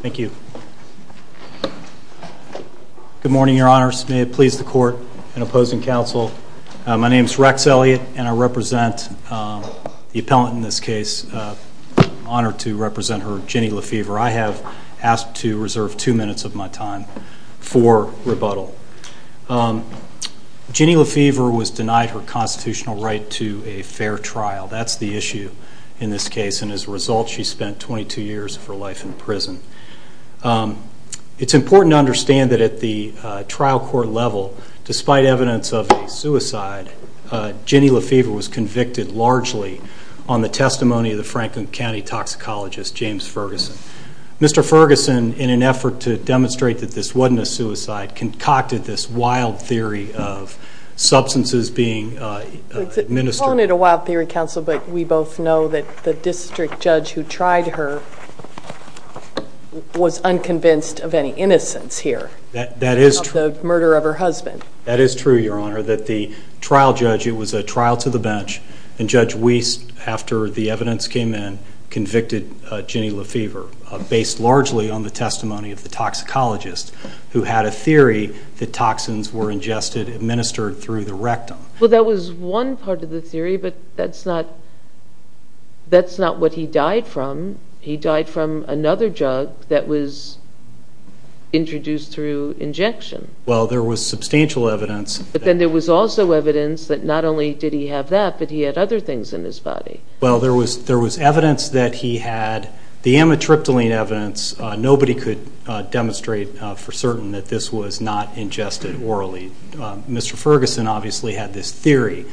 Thank you. Good morning, your honors. May it please the court and opposing counsel, my name is Rex Elliott and I represent the appellant in this case, honored to represent her, Ginny LeFever. I have asked to reserve two minutes of my time for rebuttal. Ginny LeFever was denied her constitutional right to a fair trial, that's the issue in this case, and as a result, she spent 22 years of her life in prison. It's important to understand that at the trial court level, despite evidence of a suicide, Ginny LeFever was convicted largely on the testimony of the Franklin County toxicologist, James Ferguson. Mr. Ferguson, in an effort to demonstrate that this wasn't a suicide, concocted this wild theory of substances being administered. I wanted a wild theory, counsel, but we both know that the district judge who tried her was unconvinced of any innocence here. That is true. The murder of her husband. That is true, your honor. That the trial judge, it was a trial to the bench, and Judge Wiest, after the evidence came in, convicted Ginny LeFever based largely on the testimony of the toxicologist who had a theory that toxins were ingested, administered through the rectum. Well, that was one part of the theory, but that's not what he died from. He died from another drug that was introduced through injection. Well, there was substantial evidence. But then there was also evidence that not only did he have that, but he had other things in his body. Well, there was evidence that he had the amitriptyline evidence. Nobody could demonstrate for certain that this was not ingested orally. Mr. Ferguson obviously had this theory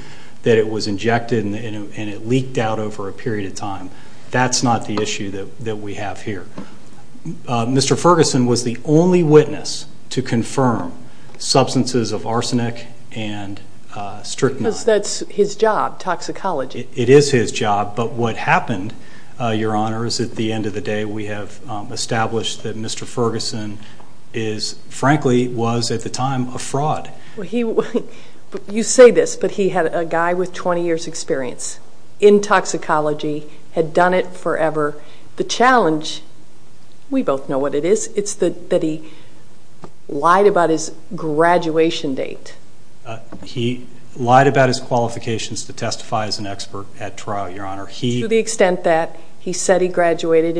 that it was injected and it leaked out over a period of time. That's not the issue that we have here. Mr. Ferguson was the only witness to confirm substances of arsenic and strychnine. That's his job, toxicology. It is his job, but what happened, your honor, is at the end of the day we have established that Mr. Ferguson is, frankly, was at the time a fraud. You say this, but he had a guy with 20 years experience in toxicology, had done it forever. The challenge, we both know what it is, it's that he lied about his graduation date. He lied about his qualifications to testify as an expert at trial, your honor. To the extent that he said he graduated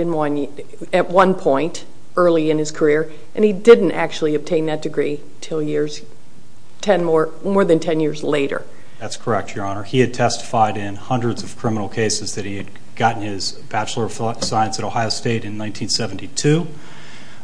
at one point early in his career and he didn't actually obtain that degree until more than 10 years later. That's correct, your honor. He had testified in hundreds of criminal cases that he had gotten his Bachelor of Science at Ohio State in 1972,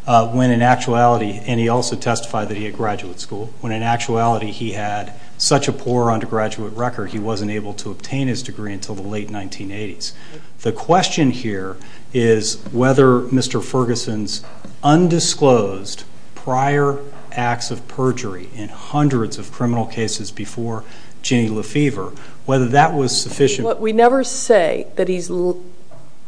and he also testified that he had graduate school. When in actuality he had such a poor undergraduate record, he wasn't able to obtain his degree until the late 1980s. The question here is whether Mr. Ferguson's undisclosed prior acts of perjury in hundreds of criminal cases before Jenny Lefevre, whether that was sufficient. We never say that he's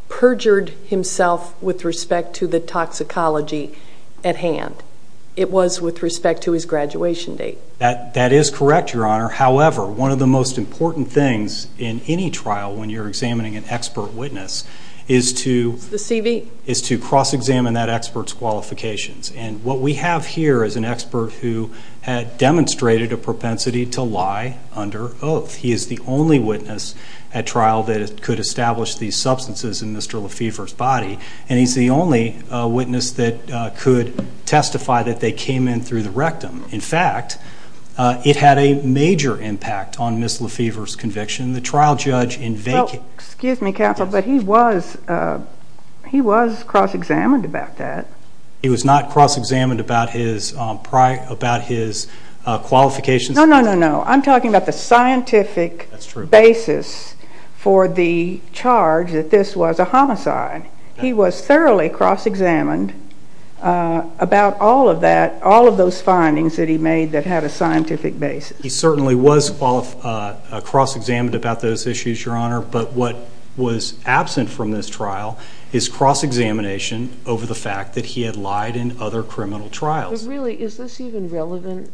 perjured himself with respect to the toxicology at hand. It was with respect to his graduation date. That is correct, your honor. However, one of the most important things in any trial when you're examining an expert witness is to cross-examine that expert's qualifications. What we have here is an expert who had demonstrated a propensity to lie under oath. He is the only witness at trial that could establish these substances in Mr. Lefevre's body, and he's the only witness that could testify that they came in through the rectum. In fact, it had a major impact on Ms. Lefevre's conviction. The trial judge in vacant... Well, excuse me, counsel, but he was cross-examined about that. He was not cross-examined about his qualifications? No, no, no. I'm talking about the scientific basis for the charge that this was a homicide. He was thoroughly cross-examined about all of that, all of those findings that he made that had a scientific basis. He certainly was cross-examined about those issues, your honor, but what was absent from this trial is cross-examination over the fact that he had lied in other criminal trials. But really, is this even relevant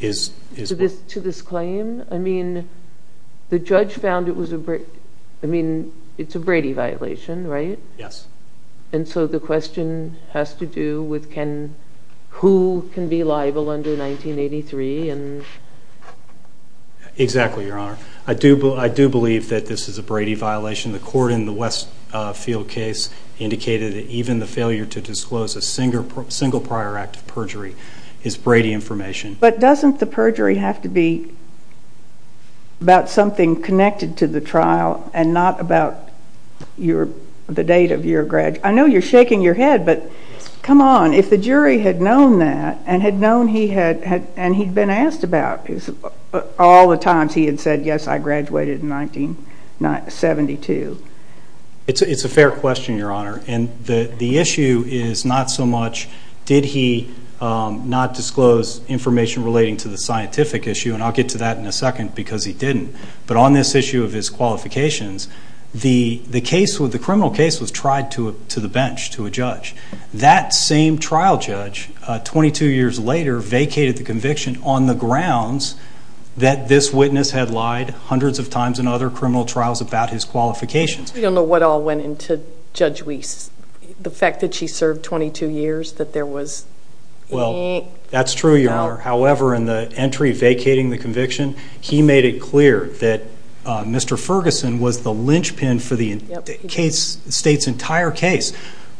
to this claim? I mean, the judge found it was a Brady violation, right? Yes. And so the question has to do with who can be liable under 1983 and... Exactly, your honor. I do believe that this is a Brady violation. The court in the Westfield case indicated that even the failure to disclose a single prior act of perjury is Brady information. But doesn't the perjury have to be about something connected to the trial and not about the date of your... I know you're shaking your head, but come on. If the jury had known that and had known he had... And he'd been asked about all the times he had said, yes, I graduated in 1972. It's a fair question, your honor, and the issue is not so much, did he not disclose information relating to the scientific issue, and I'll get to that in a second, because he didn't. But on this issue of his qualifications, the criminal case was tried to the bench, to a judge. That same trial judge, 22 years later, vacated the conviction on the grounds that this witness had lied hundreds of times in other criminal trials about his qualifications. We don't know what all went into Judge Weiss, the fact that she served 22 years, that there was... Well, that's true, your honor. However, in the entry vacating the conviction, he made it clear that Mr. Ferguson was the linchpin for the state's entire case.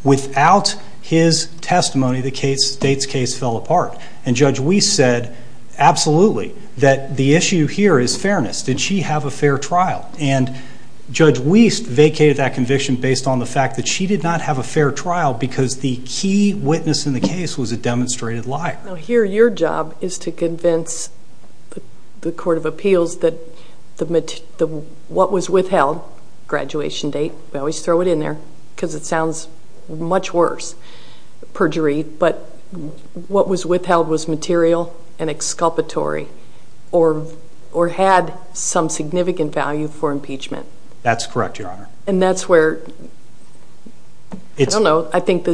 Without his testimony, the state's case fell apart. And Judge Weiss said, absolutely, that the issue here is fairness. Did she have a fair trial? And Judge Weiss vacated that conviction based on the fact that she did not have a fair trial because the key witness in the case was a demonstrated liar. Now, here, your job is to convince the Court of Appeals that what was withheld, graduation date, we always throw it in there, because it sounds much worse, perjury, but what was withheld was material and exculpatory, or had some significant value for impeachment. That's correct, your honor. And that's where, I don't know, I think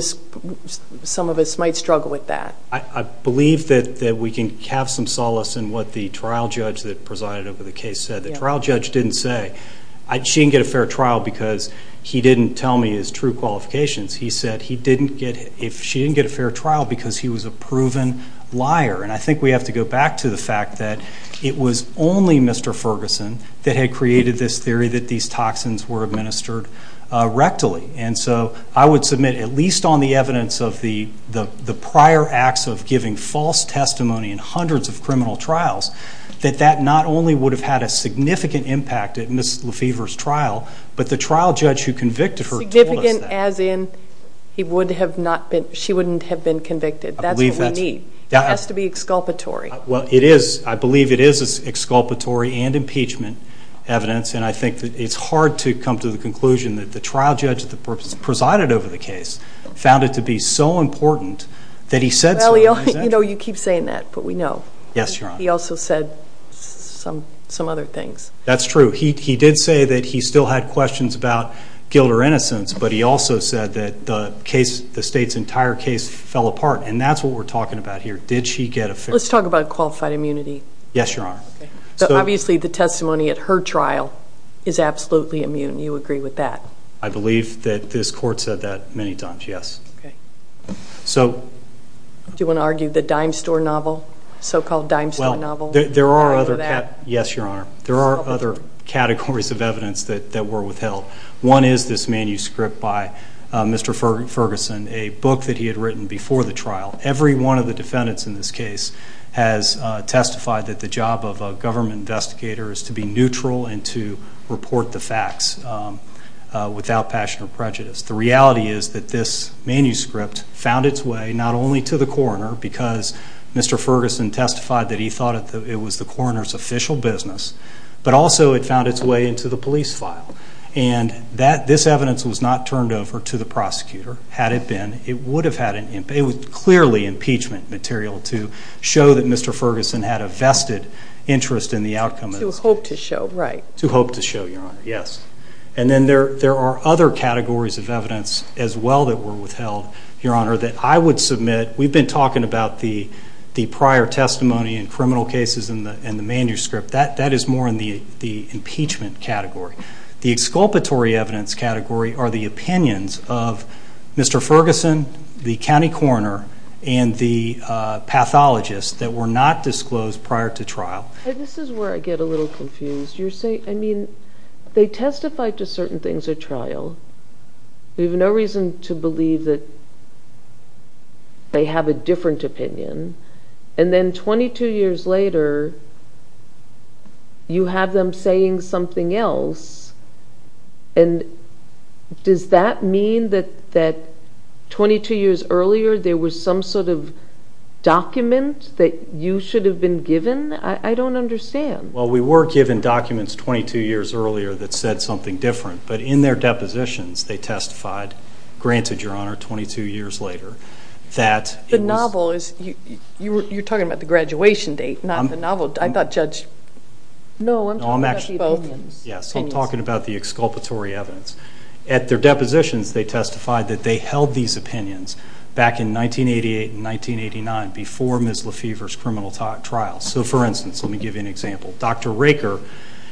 some of us might struggle with that. I believe that we can have some solace in what the trial judge that presided over the case said. The trial judge didn't say, she didn't get a fair trial because he didn't tell me his true qualifications. He said, she didn't get a fair trial because he was a proven liar. And I think we have to go back to the fact that it was only Mr. Ferguson that had created this theory that these toxins were administered rectally. And so, I would submit, at least on the evidence of the prior acts of giving false testimony in hundreds of criminal trials, that that not only would have had a significant impact at Ms. Lefevre's trial, but the trial judge who convicted her told us that. Significant as in, he would have not been, she wouldn't have been convicted. I believe that's... That's what we need. It has to be exculpatory. Well, it is. I believe it is exculpatory and impeachment evidence. And I think that it's hard to come to the conclusion that the trial judge that presided over the case found it to be so important that he said so. Well, you know, you keep saying that, but we know. Yes, Your Honor. He also said some other things. That's true. He did say that he still had questions about guilt or innocence, but he also said that the case, the state's entire case fell apart. And that's what we're talking about here. Did she get a fair... Let's talk about qualified immunity. Yes, Your Honor. Okay. So obviously the testimony at her trial is absolutely immune. You agree with that? I believe that this court said that many times, yes. Okay. So... Do you want to argue the dime store novel, so-called dime store novel? There are other... Yes, Your Honor. There are other categories of evidence that were withheld. One is this manuscript by Mr. Ferguson, a book that he had written before the trial. Every one of the defendants in this case has testified that the job of a government investigator is to be neutral and to report the facts without passion or prejudice. The reality is that this manuscript found its way not only to the coroner, because Mr. Ferguson testified that he thought it was the coroner's official business, but also it found its way into the police file. And this evidence was not turned over to the prosecutor. Had it been, it would have had an... It was clearly impeachment material to show that Mr. Ferguson had a vested interest in the outcome of the trial. To hope to show, right. To hope to show, Your Honor, yes. And then there are other categories of evidence as well that were withheld, Your Honor, that I would submit... We've been talking about the prior testimony in criminal cases and the manuscript. That is more in the impeachment category. The exculpatory evidence category are the opinions of Mr. Ferguson, the county coroner, and the pathologist that were not disclosed prior to trial. And this is where I get a little confused. You're saying... I mean, they testified to certain things at trial. We have no reason to believe that they have a different opinion. And then 22 years later, you have them saying something else. And does that mean that 22 years earlier, there was some sort of document that you should have been given? I don't understand. Well, we were given documents 22 years earlier that said something different. But in their depositions, they testified, granted, Your Honor, 22 years later, that... Well, you're talking about the graduation date, not the novel. I thought Judge... No. I'm talking about the opinions. Yes. I'm talking about the exculpatory evidence. At their depositions, they testified that they held these opinions back in 1988 and 1989 before Ms. Lefever's criminal trial. So for instance, let me give you an example. Dr. Raker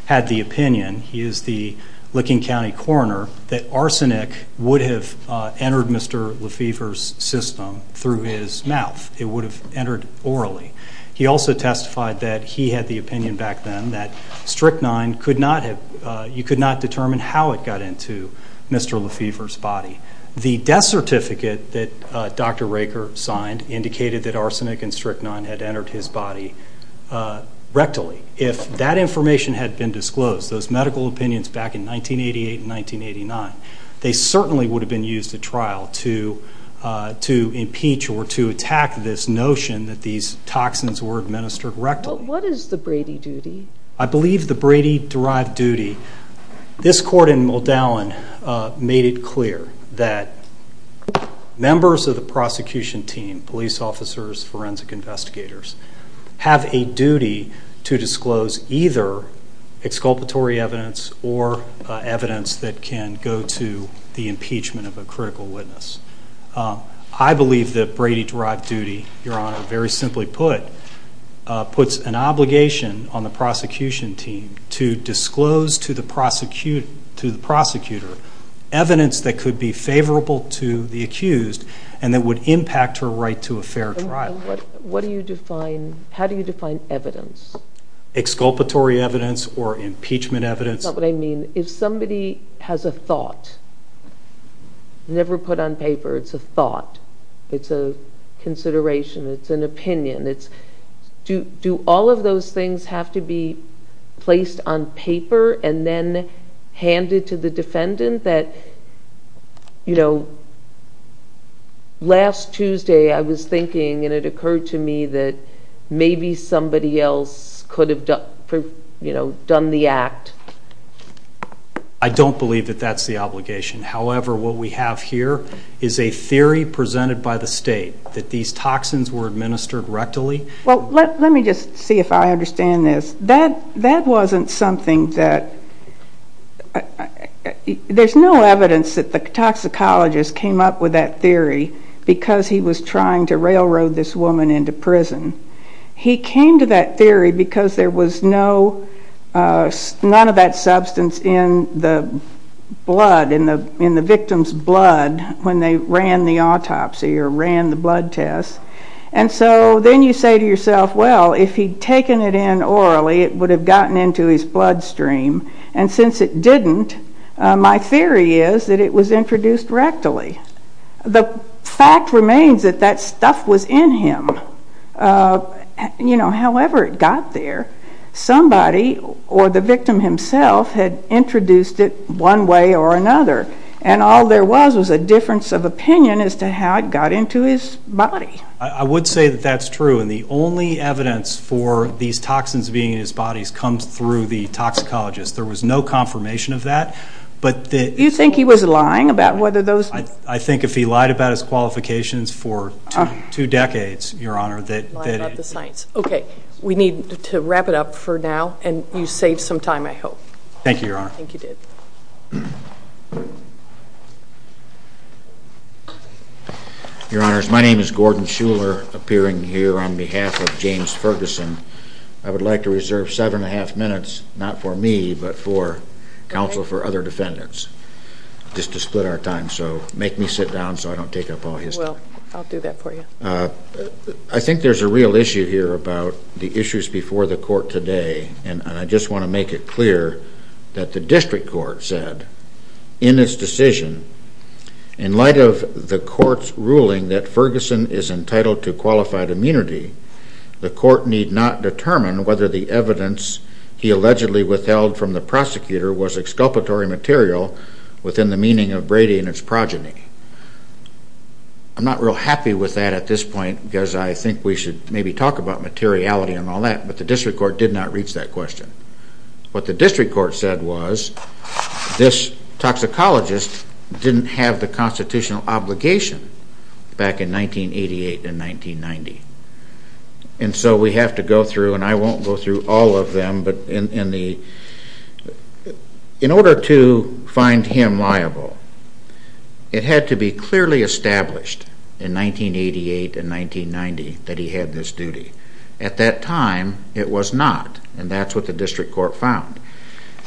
had the opinion, he is the Licking County coroner, that arsenic would have entered Mr. Lefever's system through his mouth. It would have entered orally. He also testified that he had the opinion back then that strychnine could not have... You could not determine how it got into Mr. Lefever's body. The death certificate that Dr. Raker signed indicated that arsenic and strychnine had entered his body rectally. If that information had been disclosed, those medical opinions back in 1988 and 1989, they certainly would have been used at trial to impeach or to attack this notion that these toxins were administered rectally. What is the Brady duty? I believe the Brady-derived duty... This court in Moldowan made it clear that members of the prosecution team, police officers, forensic investigators, have a duty to disclose either exculpatory evidence or evidence that can go to the impeachment of a critical witness. I believe that Brady-derived duty, Your Honor, very simply put, puts an obligation on the prosecution team to disclose to the prosecutor evidence that could be favorable to the accused and that would impact her right to a fair trial. What do you define... How do you define evidence? Exculpatory evidence or impeachment evidence. That's not what I mean. If somebody has a thought, never put on paper, it's a thought, it's a consideration, it's an opinion, do all of those things have to be placed on paper and then handed to the defendant that, you know, last Tuesday I was thinking and it occurred to me that maybe somebody else could have done the act. I don't believe that that's the obligation. However, what we have here is a theory presented by the state that these toxins were administered rectally. Well, let me just see if I understand this. That wasn't something that... There's no evidence that the toxicologist came up with that theory because he was trying to railroad this woman into prison. He came to that theory because there was none of that substance in the blood, in the victim's blood when they ran the autopsy or ran the blood test. And so then you say to yourself, well, if he'd taken it in orally, it would have gotten into his bloodstream. And since it didn't, my theory is that it was introduced rectally. The fact remains that that stuff was in him. You know, however it got there, somebody or the victim himself had introduced it one way or another and all there was was a difference of opinion as to how it got into his body. I would say that that's true and the only evidence for these toxins being in his body comes through the toxicologist. There was no confirmation of that. But the... I think if he lied about his qualifications for two decades, Your Honor, that... Lied about the science. Okay. We need to wrap it up for now and you saved some time, I hope. Thank you, Your Honor. I think you did. Your Honors, my name is Gordon Shuler, appearing here on behalf of James Ferguson. I would like to reserve seven and a half minutes, not for me, but for counsel for other defendants, just to split our time. So make me sit down so I don't take up all his time. You will. I'll do that for you. I think there's a real issue here about the issues before the court today and I just want to make it clear that the district court said in its decision, in light of the court's ruling that Ferguson is entitled to qualified immunity, the court need not determine whether the evidence he allegedly withheld from the prosecutor was exculpatory material within the meaning of Brady and its progeny. I'm not real happy with that at this point because I think we should maybe talk about materiality and all that, but the district court did not reach that question. What the district court said was this toxicologist didn't have the constitutional obligation back in 1988 and 1990. And so we have to go through, and I won't go through all of them, but in the... to find him liable, it had to be clearly established in 1988 and 1990 that he had this duty. At that time, it was not, and that's what the district court found.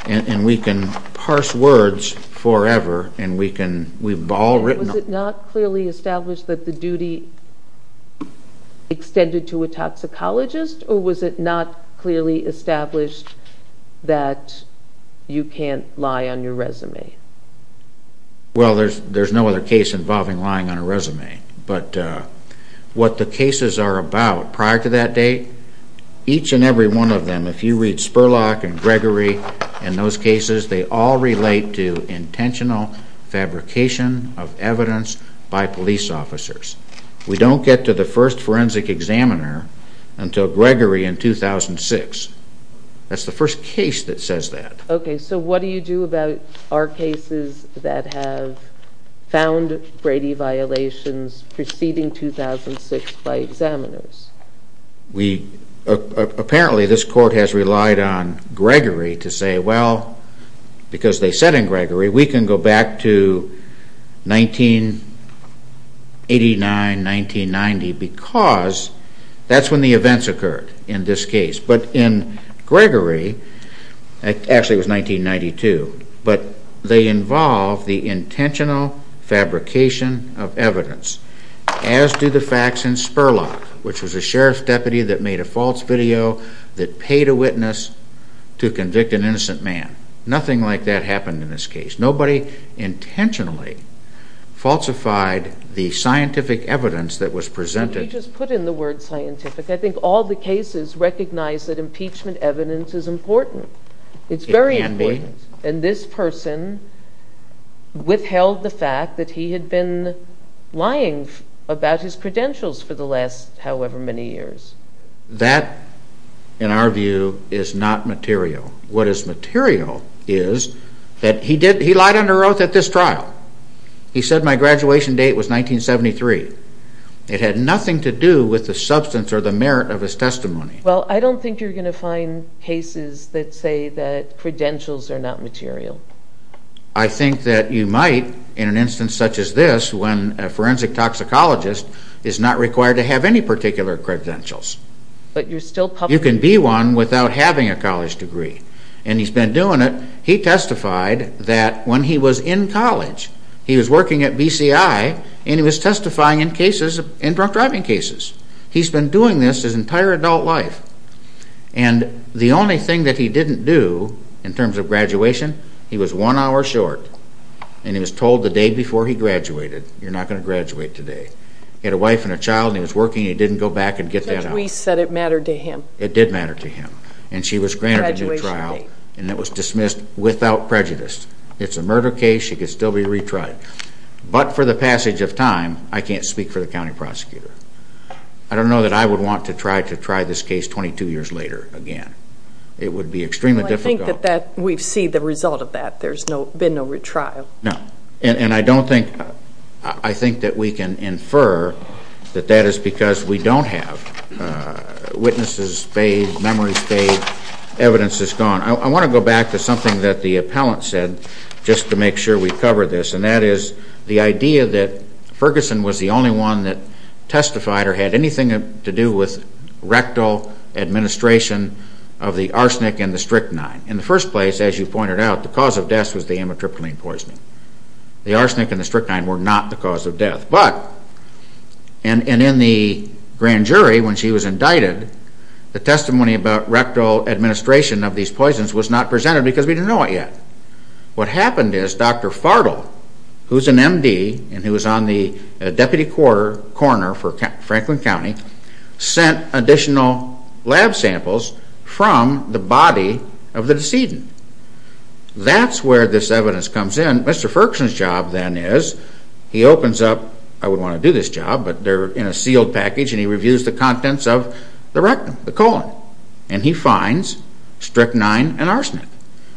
And we can parse words forever and we've all written... Was it not clearly established that the duty extended to a toxicologist, or was it not clearly established that you can't lie on your resume? Well, there's no other case involving lying on a resume, but what the cases are about prior to that date, each and every one of them, if you read Spurlock and Gregory and those cases, they all relate to intentional fabrication of evidence by police officers. We don't get to the first forensic examiner until Gregory in 2006. That's the first case that says that. Okay, so what do you do about our cases that have found Brady violations preceding 2006 by examiners? We... Apparently, this court has relied on Gregory to say, well, because they said in Gregory, we can go back to 1989, 1990, because that's when the events occurred in this case. But in Gregory, actually it was 1992, but they involve the intentional fabrication of evidence, as do the facts in Spurlock, which was a sheriff's deputy that made a false video that paid a witness to convict an innocent man. Nothing like that happened in this case. Nobody intentionally falsified the scientific evidence that was presented. When you just put in the word scientific, I think all the cases recognize that impeachment evidence is important. It's very important. It can be. And this person withheld the fact that he had been lying about his credentials for the last however many years. That, in our view, is not material. What is material is that he lied under oath at this trial. He said my graduation date was 1973. It had nothing to do with the substance or the merit of his testimony. Well, I don't think you're going to find cases that say that credentials are not material. I think that you might in an instance such as this, when a forensic toxicologist is not required to have any particular credentials. But you're still... You can be one without having a college degree. And he's been doing it. He testified that when he was in college, he was working at BCI, and he was testifying in cases, in drunk driving cases. He's been doing this his entire adult life. And the only thing that he didn't do in terms of graduation, he was one hour short. And he was told the day before he graduated, you're not going to graduate today. He had a wife and a child and he was working and he didn't go back and get that out. We said it mattered to him. It did matter to him. And she was granted a new trial and it was dismissed without prejudice. It's a murder case. She could still be retried. But for the passage of time, I can't speak for the county prosecutor. I don't know that I would want to try to try this case 22 years later again. It would be extremely difficult. Well, I think that we've seen the result of that. There's been no retrial. No. And I don't think, I think that we can infer that that is because we don't have witnesses spayed, memories spayed, evidence is gone. I want to go back to something that the appellant said, just to make sure we cover this. And that is the idea that Ferguson was the only one that testified or had anything to do with rectal administration of the arsenic and the strychnine. In the first place, as you pointed out, the cause of death was the amitriptyline poisoning. The arsenic and the strychnine were not the cause of death. But, and in the grand jury when she was indicted, the testimony about rectal administration of these poisons was not presented because we didn't know it yet. What happened is Dr. Fartle, who's an MD and who was on the deputy coroner for Franklin County, sent additional lab samples from the body of the decedent. That's where this evidence comes in. Mr. Ferguson's job then is, he opens up, I wouldn't want to do this job, but they're in a sealed package and he reviews the contents of the rectum, the colon, and he finds strychnine and arsenic.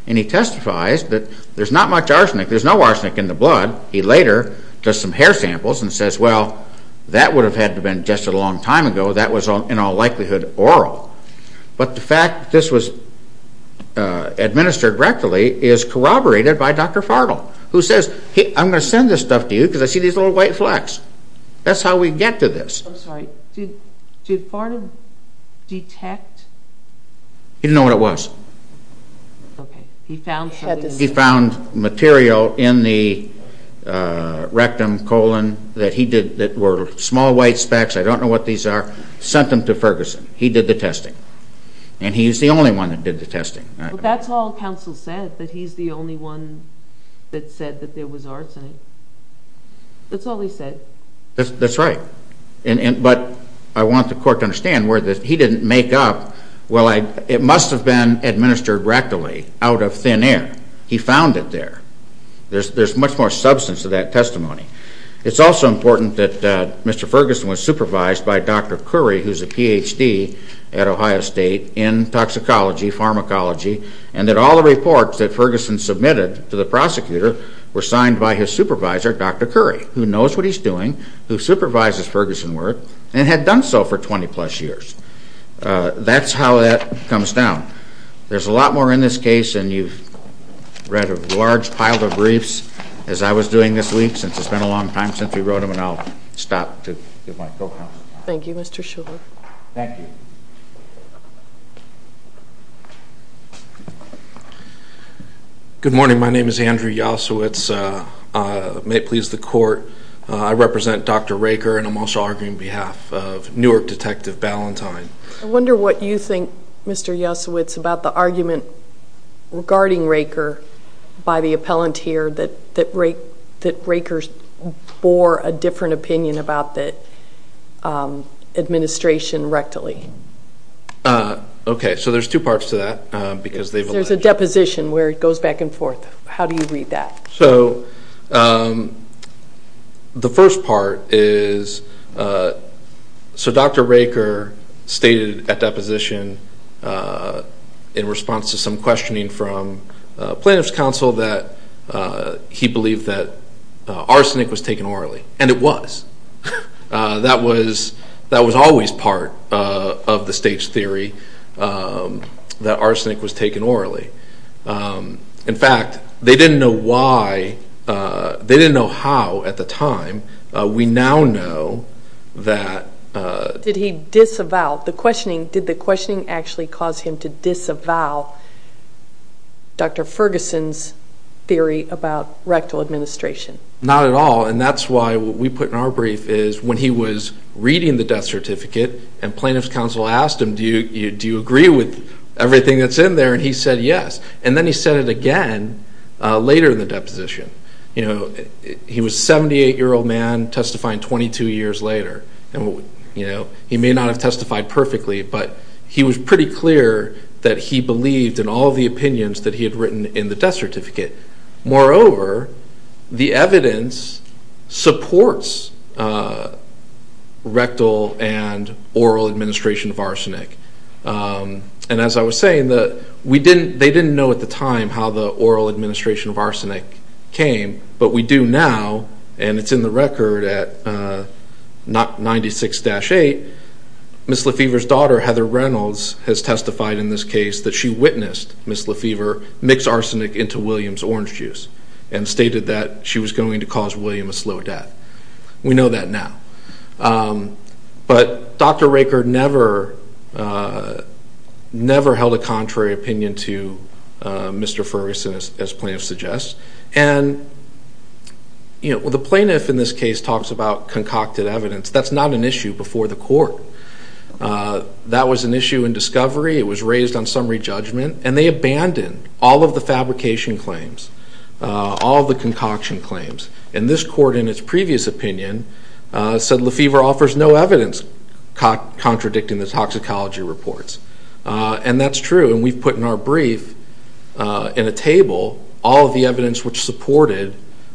And he testifies that there's not much arsenic, there's no arsenic in the blood. He later does some hair samples and says, well, that would have had to have been just a long time ago. That was in all likelihood oral. But the fact that this was administered rectally is corroborated by Dr. Fartle, who says, hey, I'm going to send this stuff to you because I see these little white flecks. That's how we get to this. I'm sorry. Did Fartle detect? He didn't know what it was. He found something. In the rectum, colon, that were small white specks, I don't know what these are, sent them to Ferguson. He did the testing. And he's the only one that did the testing. That's all counsel said, that he's the only one that said that there was arsenic. That's all he said. That's right. But I want the court to understand where he didn't make up, well, it must have been administered rectally out of thin air. He found it there. There's much more substance to that testimony. It's also important that Mr. Ferguson was supervised by Dr. Curry, who's a Ph.D. at Ohio State in toxicology, pharmacology, and that all the reports that Ferguson submitted to the prosecutor were signed by his supervisor, Dr. Curry, who knows what he's doing, who supervises Ferguson Worth, and had done so for 20-plus years. That's how that comes down. There's a lot more in this case, and you've read a large pile of briefs, as I was doing this week, since it's been a long time since we wrote them, and I'll stop to give my co-counsel. Thank you, Mr. Shulman. Thank you. Good morning. My name is Andrew Yasowitz. May it please the court, I represent Dr. Raker, and I'm also arguing on behalf of Newark Detective Ballantyne. I wonder what you think, Mr. Yasowitz, about the argument regarding Raker by the appellant here that Raker bore a different opinion about the administration rectally. Okay, so there's two parts to that, because they've alleged... There's a deposition where it goes back and forth. How do you read that? So the first part is, so Dr. Raker stated at deposition, in response to some questioning from plaintiff's counsel, that he believed that arsenic was taken orally, and it was. That was always part of the state's theory, that arsenic was taken orally. In fact, they didn't know why, they didn't know how at the time. We now know that... Did he disavow, did the questioning actually cause him to disavow Dr. Ferguson's theory about rectal administration? Not at all, and that's why what we put in our brief is, when he was reading the death certificate and plaintiff's counsel asked him, do you agree with everything that's in there? And he said yes, and then he said it again later in the deposition. He was a 78-year-old man testifying 22 years later, and he may not have testified perfectly, but he was pretty clear that he believed in all of the opinions that he had written in the death certificate. Moreover, the evidence supports rectal and oral administration of arsenic. And as I was saying, they didn't know at the time how the oral administration of arsenic came, but we do now, and it's in the record at 96-8, Ms. LaFever's daughter, Heather Reynolds, has testified in this case that she witnessed Ms. LaFever mix arsenic into William's orange juice and stated that she was going to cause William a slow death. We know that now. But Dr. Raker never held a contrary opinion to Mr. Ferguson, as plaintiff suggests, and the plaintiff in this case talks about concocted evidence. That's not an issue before the court. That was an issue in discovery, it was raised on summary judgment, and they abandoned all of the fabrication claims, all of the concoction claims. And this court, in its previous opinion, said LaFever offers no evidence contradicting the toxicology reports. And that's true, and we've put in our brief, in a table, all of the evidence which supported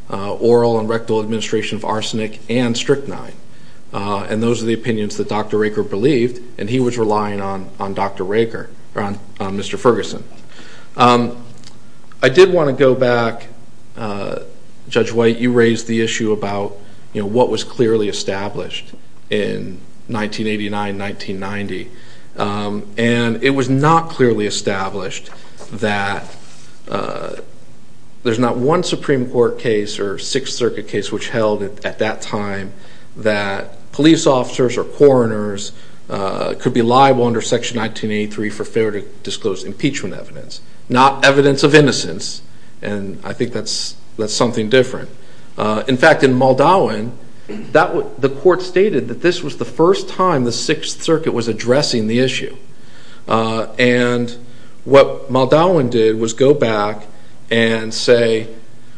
oral and rectal administration of arsenic and strychnine. And those are the opinions that Dr. Raker believed, and he was relying on Mr. Ferguson. I did want to go back, Judge White, you raised the issue about what was clearly established in 1989-1990, and it was not clearly established that there's not one Supreme Court case or Sixth Circuit case which held, at that time, that police officers or coroners could be disclosed impeachment evidence, not evidence of innocence, and I think that's something different. In fact, in Muldowen, the court stated that this was the first time the Sixth Circuit was addressing the issue, and what Muldowen did was go back and say,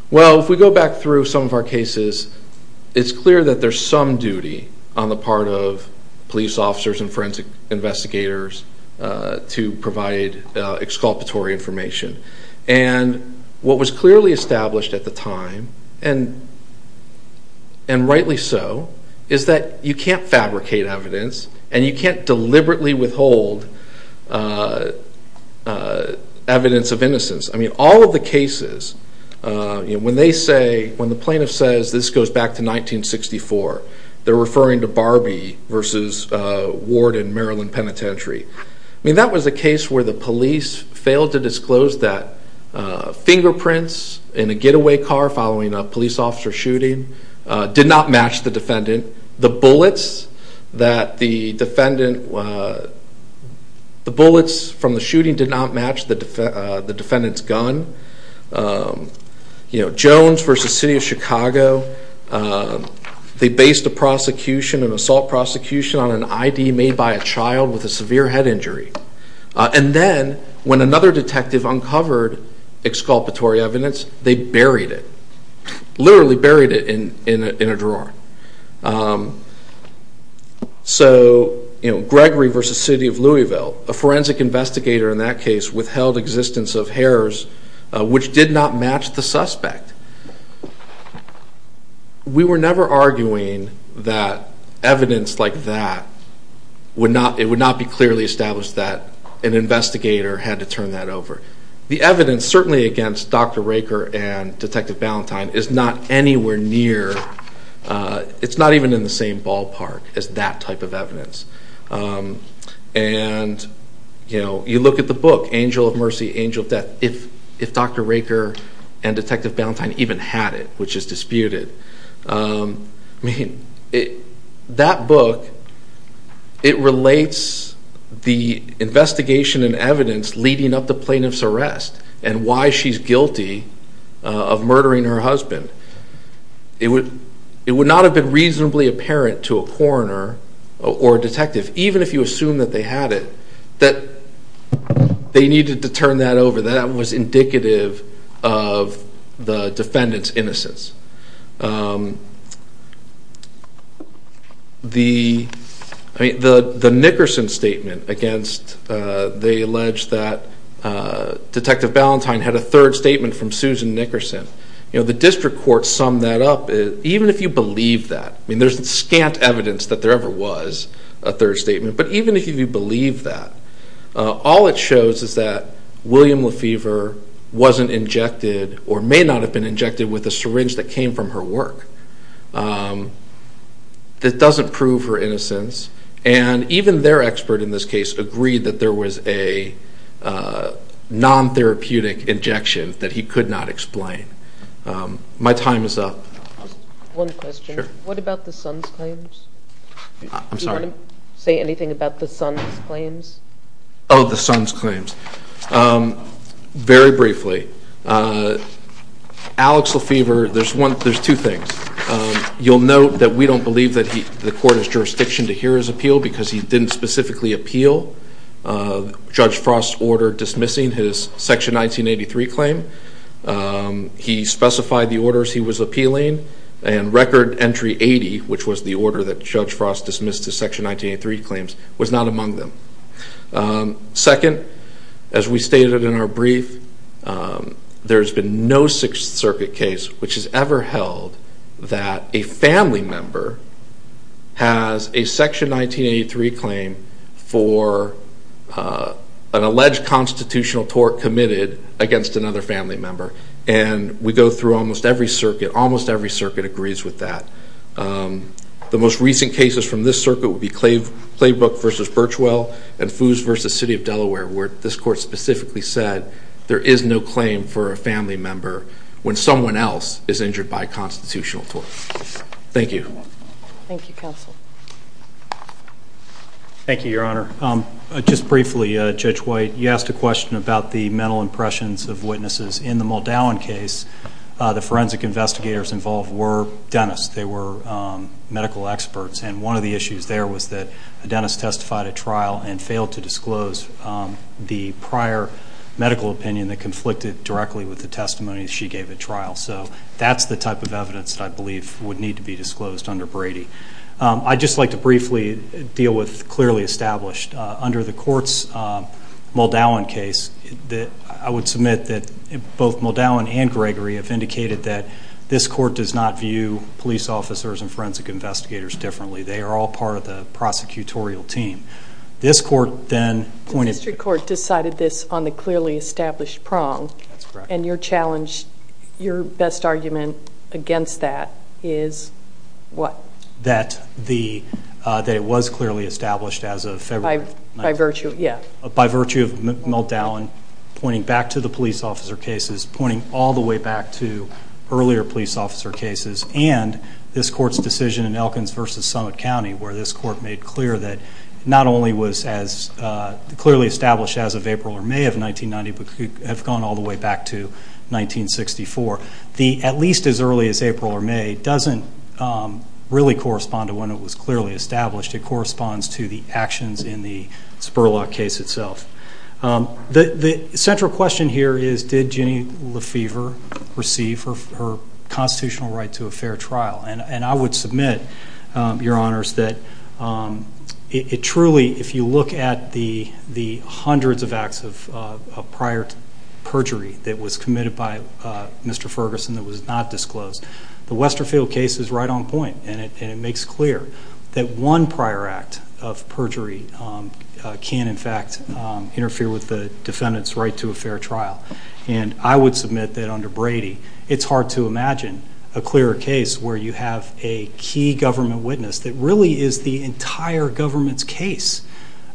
well, if we go back through some of our cases, it's clear that there's some duty on the part of police officers and forensic investigators to provide exculpatory information, and what was clearly established at the time, and rightly so, is that you can't fabricate evidence, and you can't deliberately withhold evidence of innocence. I mean, all of the cases, when they say, when the plaintiff says, this goes back to 1964, they're referring to Barbie versus Ward in Maryland Penitentiary. I mean, that was a case where the police failed to disclose that fingerprints in a getaway car following a police officer shooting did not match the defendant. The bullets that the defendant, the bullets from the shooting did not match the defendant's gun. You know, Jones versus City of Chicago, they based a prosecution, an assault prosecution on an ID made by a child with a severe head injury, and then when another detective uncovered exculpatory evidence, they buried it, literally buried it in a drawer. So, you know, Gregory versus City of Louisville, a forensic investigator in that case withheld existence of hairs, which did not match the suspect. We were never arguing that evidence like that would not, it would not be clearly established that an investigator had to turn that over. The evidence, certainly against Dr. Raker and Detective Ballantyne, is not anywhere near, it's not even in the same ballpark as that type of evidence, and you know, you look at the book, Angel of Mercy, Angel of Death, if Dr. Raker and Detective Ballantyne even had it, which is disputed, I mean, that book, it relates the investigation and evidence leading up to plaintiff's arrest and why she's guilty of murdering her husband. It would not have been reasonably apparent to a coroner or a detective, even if you assume that they had it, that they needed to turn that over. That was indicative of the defendant's innocence. The Nickerson statement against, they alleged that Detective Ballantyne had a third statement from Susan Nickerson, you know, the district court summed that up. Even if you believe that, I mean, there's scant evidence that there ever was a third statement. Even if you believe that, all it shows is that William Lefevre wasn't injected or may not have been injected with a syringe that came from her work. That doesn't prove her innocence, and even their expert in this case agreed that there was a non-therapeutic injection that he could not explain. My time is up. One question. Sure. What about the son's claims? I'm sorry? Did you want to say anything about the son's claims? Oh, the son's claims. Very briefly, Alex Lefevre, there's two things. You'll note that we don't believe that the court has jurisdiction to hear his appeal because he didn't specifically appeal Judge Frost's order dismissing his Section 1983 claim. He specified the orders he was appealing, and Record Entry 80, which was the order that Section 1983 claims, was not among them. Second, as we stated in our brief, there's been no Sixth Circuit case which has ever held that a family member has a Section 1983 claim for an alleged constitutional tort committed against another family member, and we go through almost every circuit. Almost every circuit agrees with that. The most recent cases from this circuit would be Claybrook v. Birchwell and Foos v. City of Delaware, where this court specifically said there is no claim for a family member when someone else is injured by a constitutional tort. Thank you. Thank you, Counsel. Thank you, Your Honor. Just briefly, Judge White, you asked a question about the mental impressions of witnesses in the Muldown case. The forensic investigators involved were dentists. They were medical experts, and one of the issues there was that a dentist testified at trial and failed to disclose the prior medical opinion that conflicted directly with the testimony she gave at trial. So that's the type of evidence that I believe would need to be disclosed under Brady. I'd just like to briefly deal with clearly established. Under the court's Muldown case, I would submit that both Muldown and Gregory have indicated that this court does not view police officers and forensic investigators differently. They are all part of the prosecutorial team. This court then pointed – The district court decided this on the clearly established prong, and your challenge, your best argument against that is what? That it was clearly established as a – By virtue, yeah. By virtue of Muldown pointing back to the police officer cases, pointing all the way back to earlier police officer cases, and this court's decision in Elkins versus Summit County where this court made clear that not only was as clearly established as of April or May of 1990, but could have gone all the way back to 1964. At least as early as April or May doesn't really correspond to when it was clearly established. It corresponds to the actions in the Spurlock case itself. The central question here is did Ginny Lefevre receive her constitutional right to a fair trial? And I would submit, your honors, that it truly, if you look at the hundreds of acts of prior perjury that was committed by Mr. Ferguson that was not disclosed, the Westerfield case is right on point, and it makes clear that one prior act of perjury can in fact interfere with the defendant's right to a fair trial. And I would submit that under Brady, it's hard to imagine a clearer case where you have a key government witness that really is the entire government's case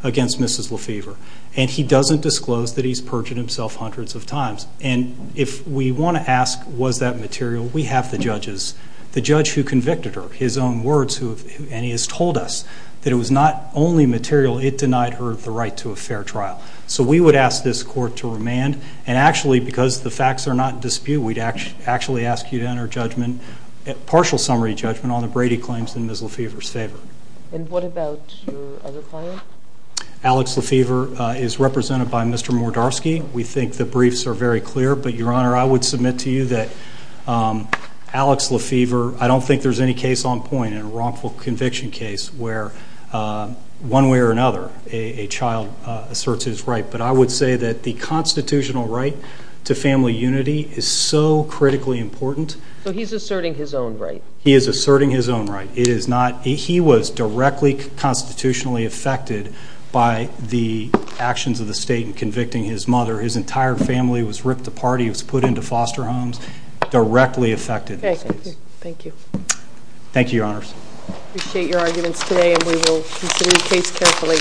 against Mrs. Lefevre, and he doesn't disclose that he's perjured himself hundreds of times. And if we want to ask was that material, we have the judges. The judge who convicted her, his own words, and he has told us that it was not only material, it denied her the right to a fair trial. So we would ask this court to remand, and actually because the facts are not in dispute, we'd actually ask you to enter judgment, partial summary judgment on the Brady claims in Ms. Lefevre's favor. And what about your other client? Alex Lefevre is represented by Mr. Mordarski. We think the briefs are very clear, but your honor, I would submit to you that Alex Lefevre I don't think there's any case on point in a wrongful conviction case where one way or another a child asserts his right. But I would say that the constitutional right to family unity is so critically important. So he's asserting his own right. He is asserting his own right. He was directly constitutionally affected by the actions of the state in convicting his mother. His entire family was ripped apart. He was put into foster homes. He was directly affected. Thank you. Thank you, your honors. I appreciate your arguments today, and we will consider the case carefully.